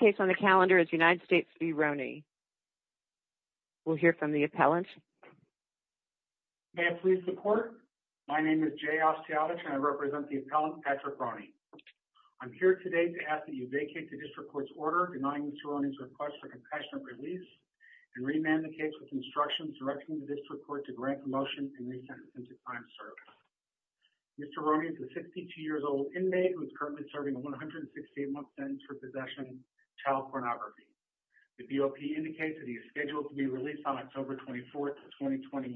Next case on the calendar is United States v. Roney. We'll hear from the appellant. May I please report? My name is Jay Osteotich and I represent the appellant Patrick Roney. I'm here today to ask that you vacate the district court's order denying Mr. Roney's request for compassionate release and remand the case with instructions directing the district court to grant the motion and re-sentence him to time of service. Mr. Roney is a 62 The BOP indicates that he is scheduled to be released on October 24, 2021,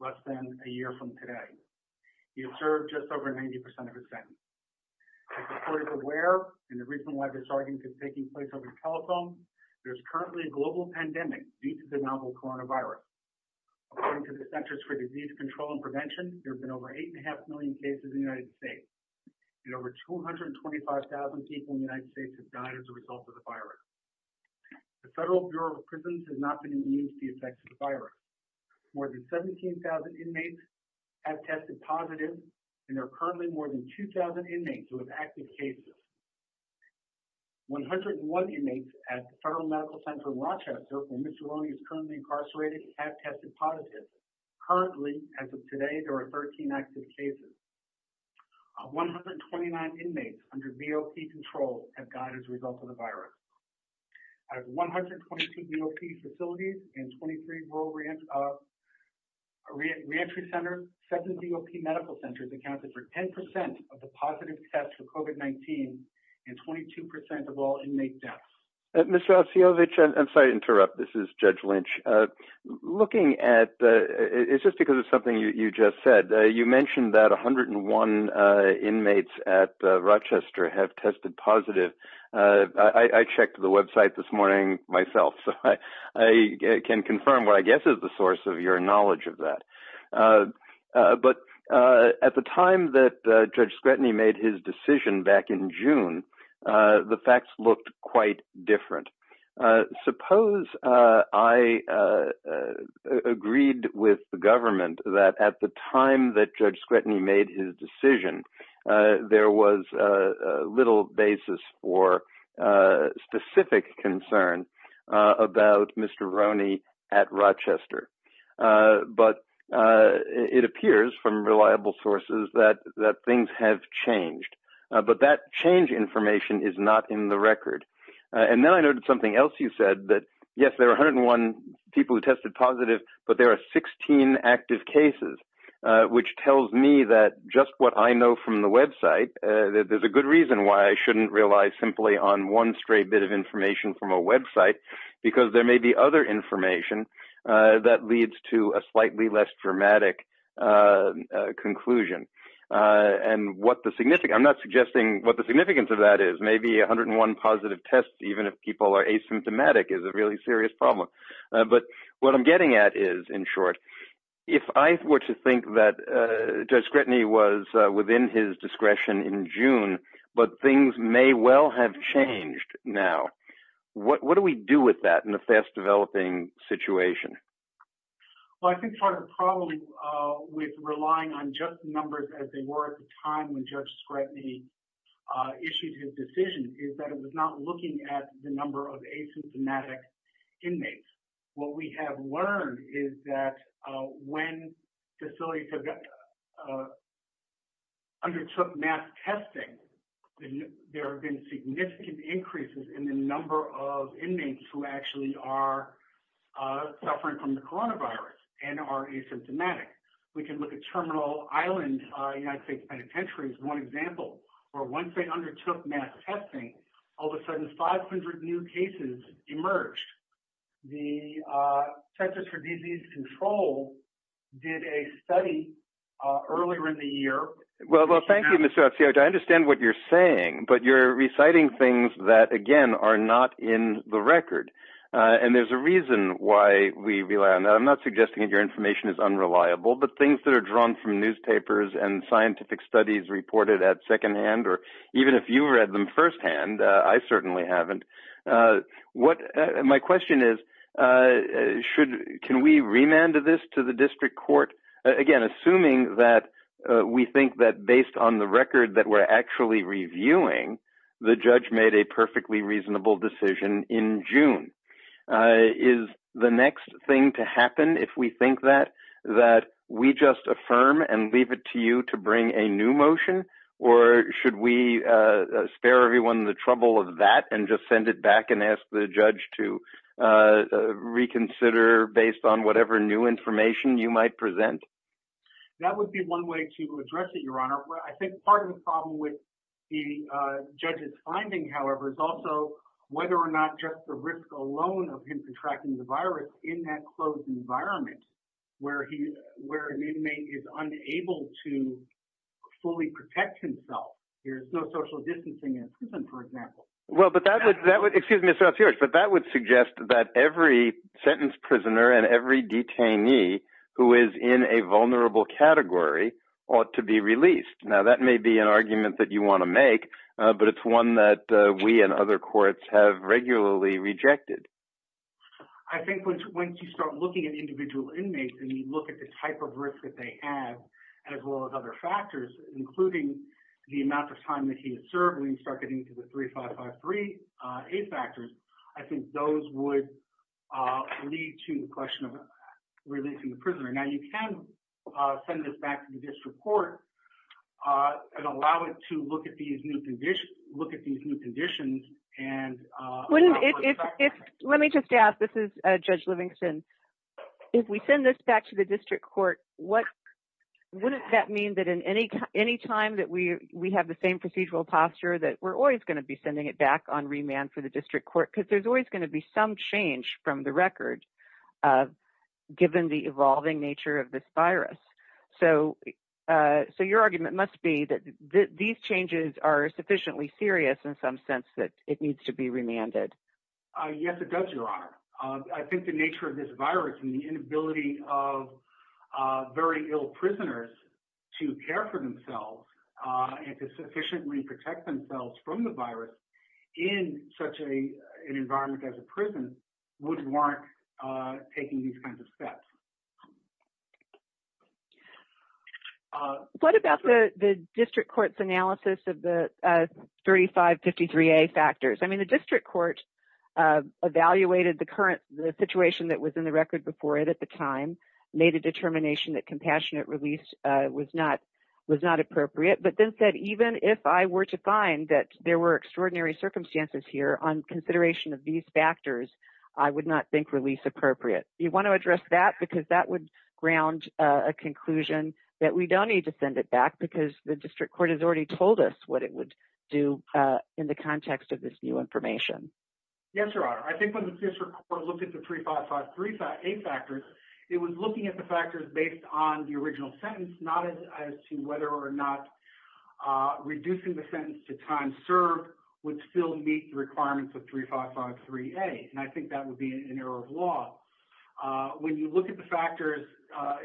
less than a year from today. He has served just over 90% of his sentence. The court is aware, and the reason why this argument is taking place over the telephone, there is currently a global pandemic due to the novel coronavirus. According to the Centers for Disease Control and Prevention, there have been over 8.5 million cases in the United States, and over 225,000 people in the United States have died as a result of the virus. The Federal Bureau of Prisons has not been immune to the effects of the virus. More than 17,000 inmates have tested positive, and there are currently more than 2,000 inmates who have active cases. 101 inmates at the Federal Medical Center in Rochester where Mr. Roney is currently incarcerated have tested positive. Currently, as of today, there are 13 active cases. Of 129 inmates under BOP control have died as a result of the virus. Out of 122 BOP facilities and 23 rural reentry centers, 7 BOP medical centers accounted for 10% of the positive tests for COVID-19 and 22% of all inmate deaths. Mr. Osijovic, I'm sorry to interrupt. This is Judge Lynch. Looking at, it's just because of something you just said, you mentioned that 101 inmates at Rochester have tested positive. I checked the website this morning myself, so I can confirm what I guess is the source of your knowledge of that. But at the time that Judge Scretany made his decision back in June, the facts looked quite different. Suppose I agreed with the government that at the time that Judge Scretany made his decision, there was little basis for specific concern about Mr. Roney at Rochester. But it appears from reliable sources that things have changed. But that change information is not in the record. And then I noted something else you said, that yes, there are 101 people who tested positive, but there are 16 active cases, which tells me that just what I know from the website, there's a good reason why I shouldn't rely simply on one stray bit of information from a website, because there may be other information that leads to a slightly less dramatic conclusion. I'm not suggesting what the significance of that is. Maybe 101 positive tests, even if people are asymptomatic, is a really serious problem. But what I'm getting at is, in short, if I were to think that Judge Scretany was within his What do we do with that in a fast-developing situation? Well, I think part of the problem with relying on just numbers as they were at the time when Judge Scretany issued his decision is that it was not looking at the number of asymptomatic inmates. What we have learned is that when facilities undertook mass testing, there have been significant increases in the number of inmates who actually are suffering from the coronavirus and are asymptomatic. We can look at Terminal Island United States Penitentiary as one example, where once they undertook mass testing, all of a sudden, 500 new cases emerged. The Centers for Disease Control did a study earlier in the year. Well, thank you, Mr. FCO. I understand what you're saying, but you're reciting things that, again, are not in the record. And there's a reason why we rely on that. I'm not suggesting that your information is unreliable, but things that are drawn from newspapers and scientific studies reported at second-hand, or even if you read them first-hand, I certainly haven't. My question is, can we remand this to the district court? Again, assuming that we think that based on the record that we're actually reviewing, the judge made a perfectly reasonable decision in June. Is the next thing to happen, if we think that, that we just affirm and leave it to you to bring a new motion? Or should we spare everyone the trouble of that and just send it back and ask the judge to reconsider based on whatever new information you might present? That would be one way to address it, Your Honor. I think part of the problem with the judge's finding, however, is also whether or not just the risk alone of him contracting the virus in that closed environment where an inmate is unable to fully protect himself. There's no social distancing in a prison, for example. Well, but that would suggest that every sentence prisoner and every detainee who is in a vulnerable category ought to be released. Now, that may be an argument that you want to make, but it's one that we and other courts have regularly rejected. I think once you start looking at individual inmates and you look at the type of risk that they have, as well as other factors, including the amount of time that he has served, when you start getting to the 3553 aid factors, I think those would lead to the question of releasing the prisoner. Now, you can send this back to the district court and allow it to look at these new conditions. Let me just ask. This is Judge Livingston. If we send this back to the district court, wouldn't that mean that any time that we have the same procedural posture, that we're always going to be sending it back on remand for the district court? Because there's always going to be some change from the record, given the evolving nature of this virus. So. So your argument must be that these changes are sufficiently serious in some sense that it needs to be remanded. Yes, it does, Your Honor. I think the nature of this virus and the inability of very ill prisoners to care for themselves and to sufficiently protect themselves from the virus in such an environment as a prison would warrant taking these kinds of steps. What about the district court's analysis of the 3553A factors? I mean, the district court evaluated the current situation that was in the record before it at the time, made a determination that compassionate release was not was not appropriate, but then said even if I were to find that there were extraordinary circumstances here on consideration of these factors, I would not think release appropriate. You want to address that? Because that would ground a conclusion that we don't need to send it back because the district court has already told us what it would do in the context of this new information. Yes, Your Honor. I think when the district court looked at the 3553A factors, it was looking at the factors based on the original sentence, not as to whether or not reducing the sentence to time served would still meet the requirements of 3553A. And I think that would be an error of law. When you look at the factors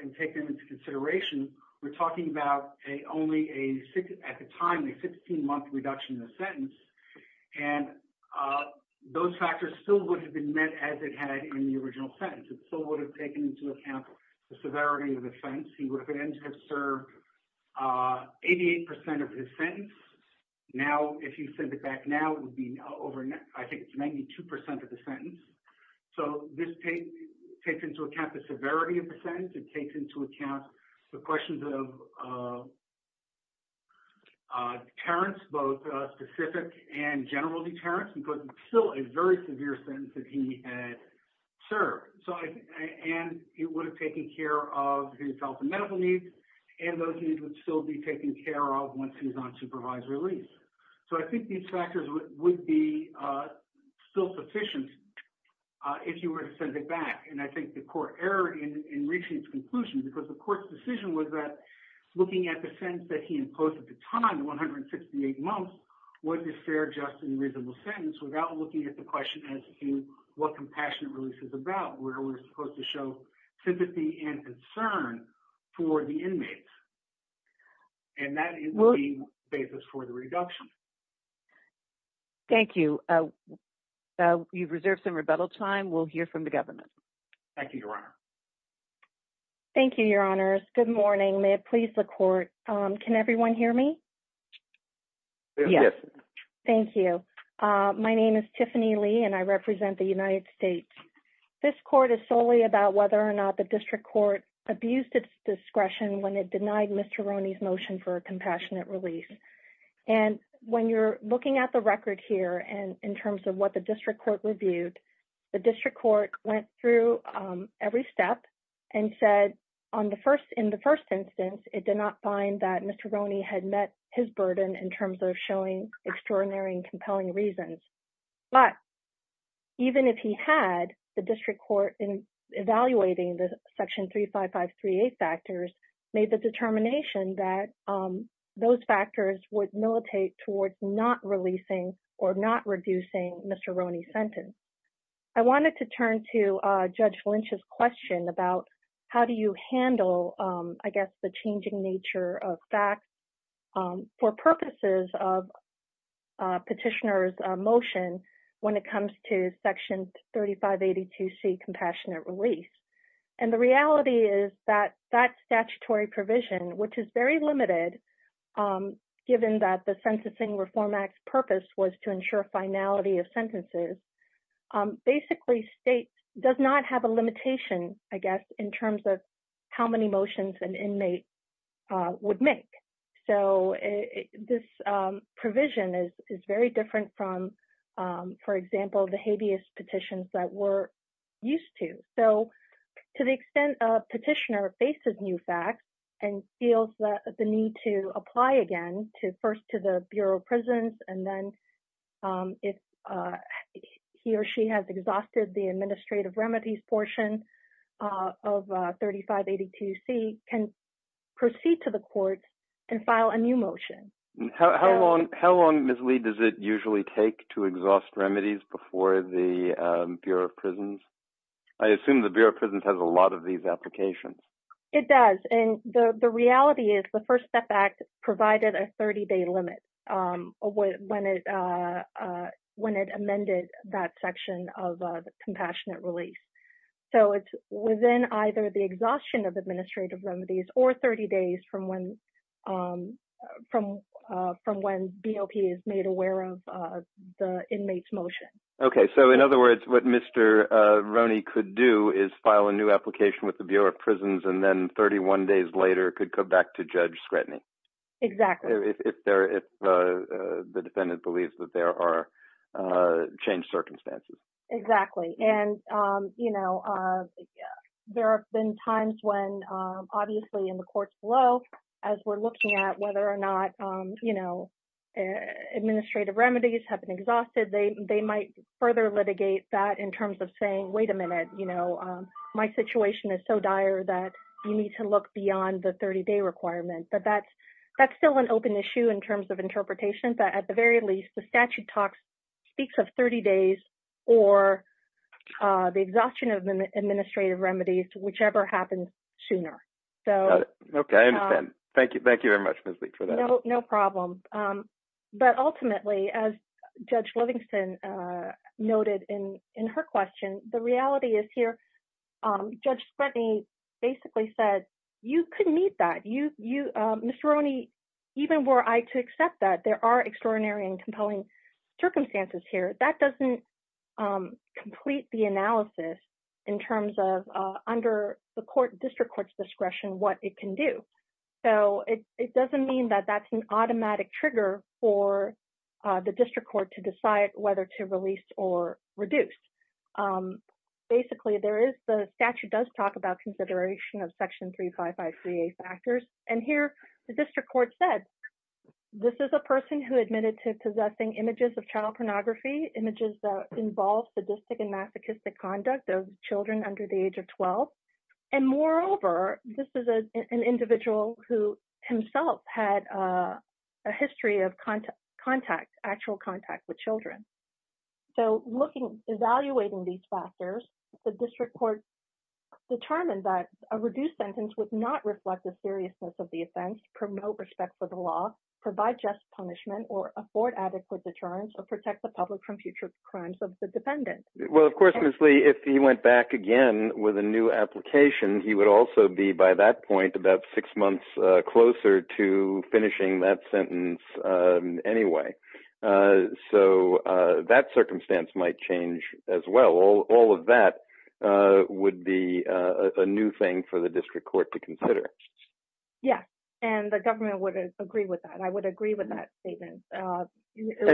and take them into consideration, we're talking about only, at the time, a 16-month reduction in the sentence, and those factors still would have been met as it had in the original sentence. It still would have taken into account the severity of the sentence. He would have been able to serve 88 percent of his sentence. Now, if you send it back now, it would be over, I think it's 92 percent of the sentence. So this takes into account the severity of the sentence. It takes into account the questions of deterrence, both specific and general deterrence, because it's still a very severe sentence that he had served. And it would have taken care of his health and medical needs, and those needs would still be taken care of once he's on supervised release. So I think these factors would be still sufficient if you were to send it back. And I think the court erred in reaching its conclusion because the court's decision was that, looking at the sentence that he imposed at the time, the 168 months, was a fair, just, and reasonable sentence without looking at the question as to what compassionate release is about, where we're supposed to show sympathy and concern for the inmates. And that is the basis for the reduction. Thank you. You've reserved some rebuttal time. We'll hear from the government. Thank you, Your Honor. Thank you, Your Honors. Good morning. May it please the court. Can everyone hear me? Yes. Thank you. My name is Tiffany Lee, and I represent the United States. This court is solely about whether or not the district court abused its discretion when it denied Mr. Rooney's motion for a compassionate release. And when you're looking at the record here, and in terms of what the district court reviewed, the district court went through every step and said, in the first instance, it did not find that Mr. Rooney had met his burden in terms of showing extraordinary and compelling reasons. But even if he had, the district court, in evaluating the Section 35538 factors, made the determination that those factors would militate towards not releasing or not reducing Mr. Rooney's sentence. I wanted to turn to Judge Lynch's question about how do you handle, I guess, the changing nature of facts. For purposes of petitioner's motion when it comes to Section 3582C, Compassionate Release. And the reality is that that statutory provision, which is very limited, given that the Censusing Reform Act's purpose was to ensure finality of sentences, basically states, does not have a limitation, I guess, in terms of how many motions an inmate would make. So this provision is very different from, for example, the habeas petitions that we're used to. So to the extent a petitioner faces new facts and feels the need to apply again, first to the Bureau of Prisons, and then if he or she has exhausted the administrative remedies portion of 3582C, can proceed to the court and file a new motion. How long, Ms. Lee, does it usually take to exhaust remedies before the Bureau of Prisons? I assume the Bureau of Prisons has a lot of these applications. It does, and the reality is the First Step Act provided a 30-day limit when it amended that section of Compassionate Release. So it's within either the exhaustion of administrative remedies or 30 days from when BOP is made aware of the inmate's motion. Okay, so in other words, what Mr. Roney could do is file a new application with the Bureau of Prisons and then 31 days later could come back to judge scrutiny. Exactly. If the defendant believes that there are changed circumstances. Exactly, and there have been times when, obviously, in the courts below, as we're looking at whether or not administrative remedies have been exhausted, they might further litigate that in terms of saying, wait a minute, you know, my situation is so dire that you need to look beyond the 30-day requirement. But that's still an open issue in terms of interpretation. But at the very least, the statute talks, speaks of 30 days or the exhaustion of administrative remedies, whichever happens sooner. Okay, I understand. Thank you very much, Ms. Lee, for that. No problem. But ultimately, as Judge Livingston noted in her question, the reality is here, Judge Spratney basically said you couldn't meet that. Mr. Roney, even were I to accept that, there are extraordinary and compelling circumstances here. That doesn't complete the analysis in terms of under the district court's discretion what it can do. So it doesn't mean that that's an automatic trigger for the district court to decide whether to release or reduce. Basically, the statute does talk about consideration of Section 355CA factors. And here the district court said this is a person who admitted to possessing images of child pornography, images that involve sadistic and masochistic conduct of children under the age of 12. And moreover, this is an individual who himself had a history of actual contact with children. So evaluating these factors, the district court determined that a reduced sentence would not reflect the seriousness of the offense, promote respect for the law, provide just punishment, or afford adequate deterrence, or protect the public from future crimes of the defendant. Well, of course, Ms. Lee, if he went back again with a new application, he would also be by that point about six months closer to finishing that sentence anyway. So that circumstance might change as well. All of that would be a new thing for the district court to consider. Yes, and the government would agree with that. I would agree with that statement. I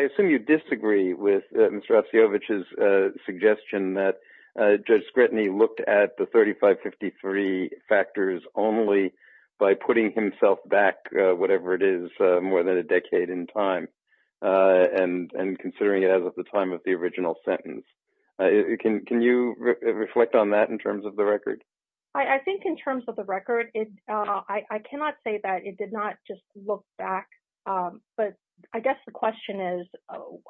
assume you disagree with Mr. Osiowicz's suggestion that Judge Scrutiny looked at the 3553 factors only by putting himself back, whatever it is, more than a decade in time and considering it as of the time of the original sentence. Can you reflect on that in terms of the record? I think in terms of the record, I cannot say that it did not just look back. But I guess the question is,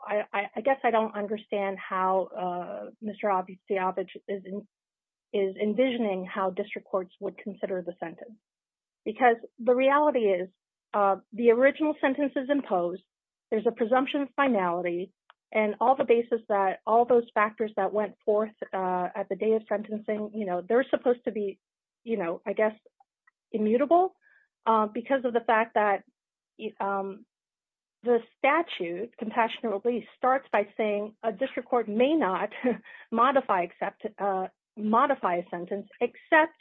I guess I don't understand how Mr. Osiowicz is envisioning how district courts would consider the sentence. Because the reality is, the original sentence is imposed, there's a presumption of finality, and all the basis that all those factors that went forth at the day of sentencing, they're supposed to be, I guess, immutable. Because of the fact that the statute, compassionate release, starts by saying a district court may not modify a sentence, except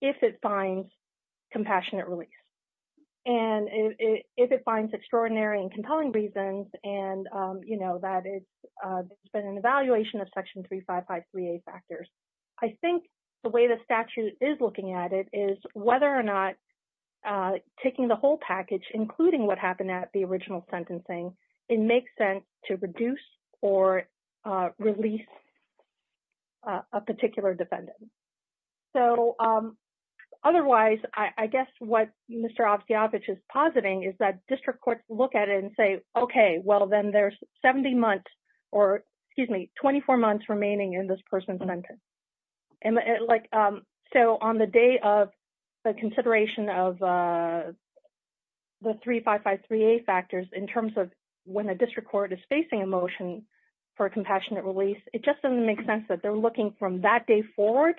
if it finds compassionate release. And if it finds extraordinary and compelling reasons, and that it's been an evaluation of section 3553A factors. I think the way the statute is looking at it is whether or not taking the whole package, including what happened at the original sentencing, it makes sense to reduce or release a particular defendant. So otherwise, I guess what Mr. Osiowicz is positing is that district courts look at it and say, okay, well, then there's 70 months, or excuse me, 24 months remaining in this person's sentence. So on the day of the consideration of the 3553A factors in terms of when a district court is facing a motion for a compassionate release, it just doesn't make sense that they're looking from that day forward.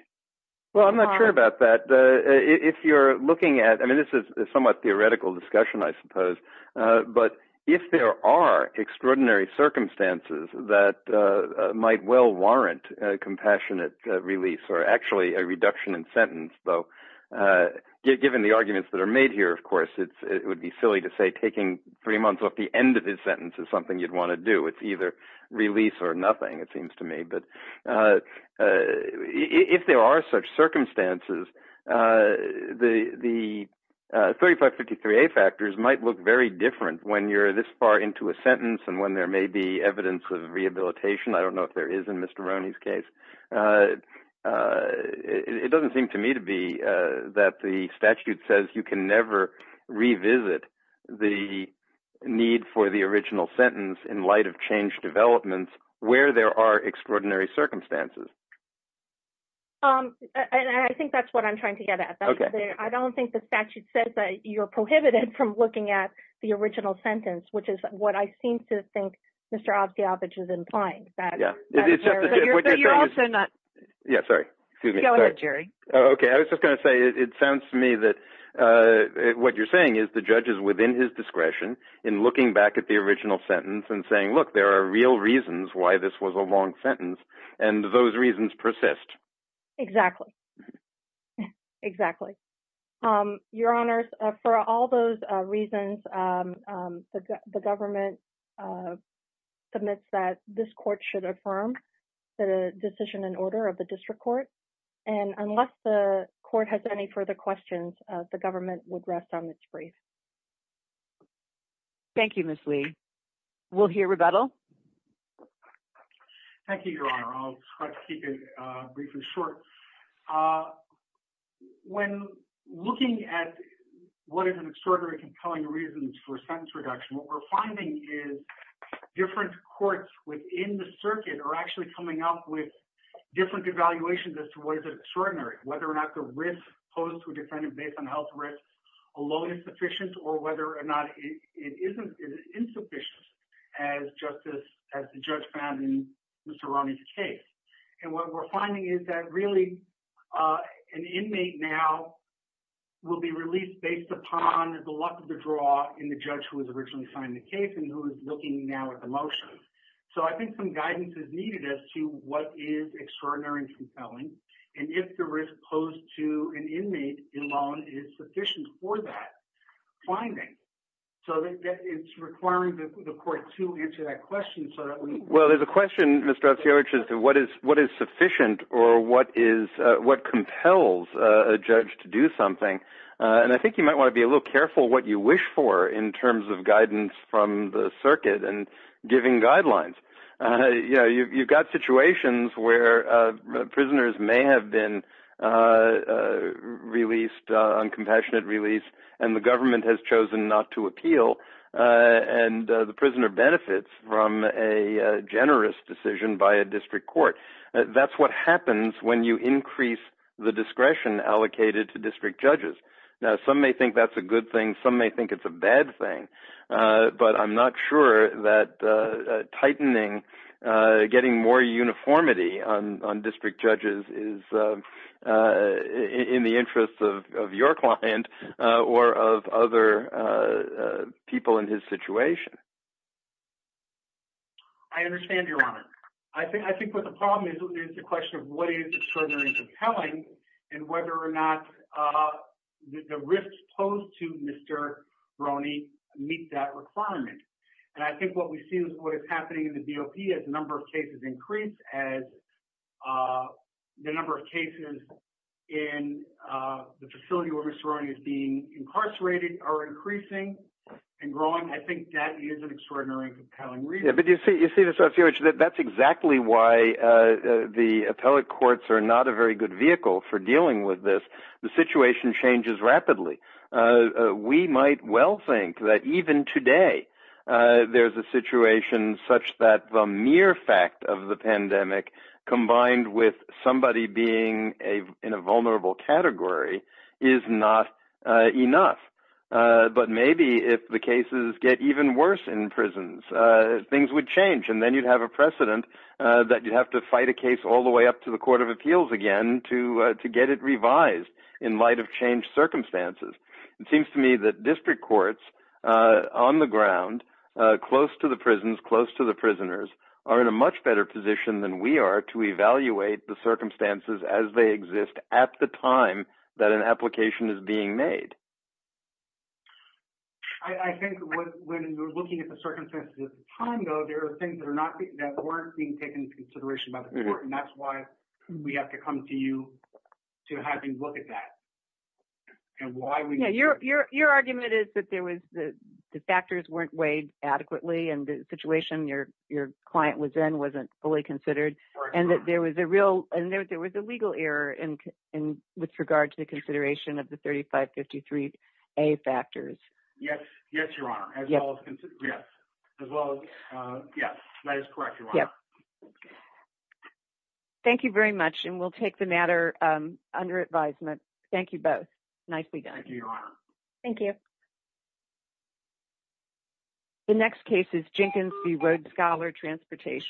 Well, I'm not sure about that. If you're looking at, I mean, this is a somewhat theoretical discussion, I suppose. But if there are extraordinary circumstances that might well warrant a compassionate release, or actually a reduction in sentence, though, given the arguments that are made here, of course, it would be silly to say taking three months off the end of his sentence is something you'd want to do. It's either release or nothing, it seems to me. But if there are such circumstances, the 3553A factors might look very different when you're this far into a sentence and when there may be evidence of rehabilitation. I don't know if there is in Mr. Roney's case. It doesn't seem to me to be that the statute says you can never revisit the need for the original sentence in light of changed developments where there are extraordinary circumstances. And I think that's what I'm trying to get at. I don't think the statute says that you're prohibited from looking at the original sentence, which is what I seem to think Mr. Obstiavich is implying. But you're also not... Yeah, sorry. Go ahead, Jerry. Okay, I was just going to say it sounds to me that what you're saying is the judge is within his discretion in looking back at the original sentence and saying, look, there are real reasons why this was a long sentence, and those reasons persist. Exactly. Exactly. Your Honor, for all those reasons, the government submits that this court should affirm the decision and order of the district court. And unless the court has any further questions, the government would rest on its brief. Thank you, Ms. Lee. We'll hear rebuttal. Thank you, Your Honor. I'll try to keep it brief and short. When looking at what is an extraordinary compelling reason for sentence reduction, what we're finding is different courts within the circuit are actually coming up with different evaluations as to what is extraordinary, whether or not the risk posed to a defendant based on health risks alone is sufficient or whether or not it is insufficient, as the judge found in Mr. Roney's case. And what we're finding is that, really, an inmate now will be released based upon the luck of the draw in the judge who was originally signing the case and who is looking now at the motion. So I think some guidance is needed as to what is extraordinary and compelling, and if the risk posed to an inmate alone is sufficient for that finding. So it's requiring the court to answer that question so that we can – Well, there's a question, Mr. Otciovic, as to what is sufficient or what compels a judge to do something, and I think you might want to be a little careful what you wish for in terms of guidance from the circuit and giving guidelines. You've got situations where prisoners may have been released, uncompassionate release, and the government has chosen not to appeal, and the prisoner benefits from a generous decision by a district court. That's what happens when you increase the discretion allocated to district judges. Now, some may think that's a good thing, some may think it's a bad thing, but I'm not sure that tightening, getting more uniformity on district judges is in the interest of your client or of other people in his situation. I understand, Your Honor. I think what the problem is is the question of what is extraordinary and compelling and whether or not the risks posed to Mr. Roney meet that requirement, and I think what we see is what is happening in the DOP as the number of cases increase, as the number of cases in the facility where Mr. Roney is being incarcerated are increasing and growing. I think that is an extraordinary and compelling reason. But you see, that's exactly why the appellate courts are not a very good vehicle for dealing with this. The situation changes rapidly. We might well think that even today there's a situation such that the mere fact of the pandemic combined with somebody being in a vulnerable category is not enough. But maybe if the cases get even worse in prisons, things would change, and then you'd have a precedent that you'd have to fight a case all the way up to the Court of Appeals again to get it revised in light of changed circumstances. It seems to me that district courts on the ground, close to the prisons, close to the prisoners, are in a much better position than we are to evaluate the circumstances as they exist at the time that an application is being made. I think when we're looking at the circumstances at the time, though, there are things that weren't being taken into consideration by the court, and that's why we have to come to you to have you look at that. Your argument is that the factors weren't weighed adequately and the situation your client was in wasn't fully considered, and that there was a legal error with regard to the consideration of the 3553A factors. Yes, Your Honor. Thank you very much, and we'll take the matter under advisement. Thank you both. Nicely done. Thank you, Your Honor. Thank you. The next case is Jenkins v. Road Scholar Transportation.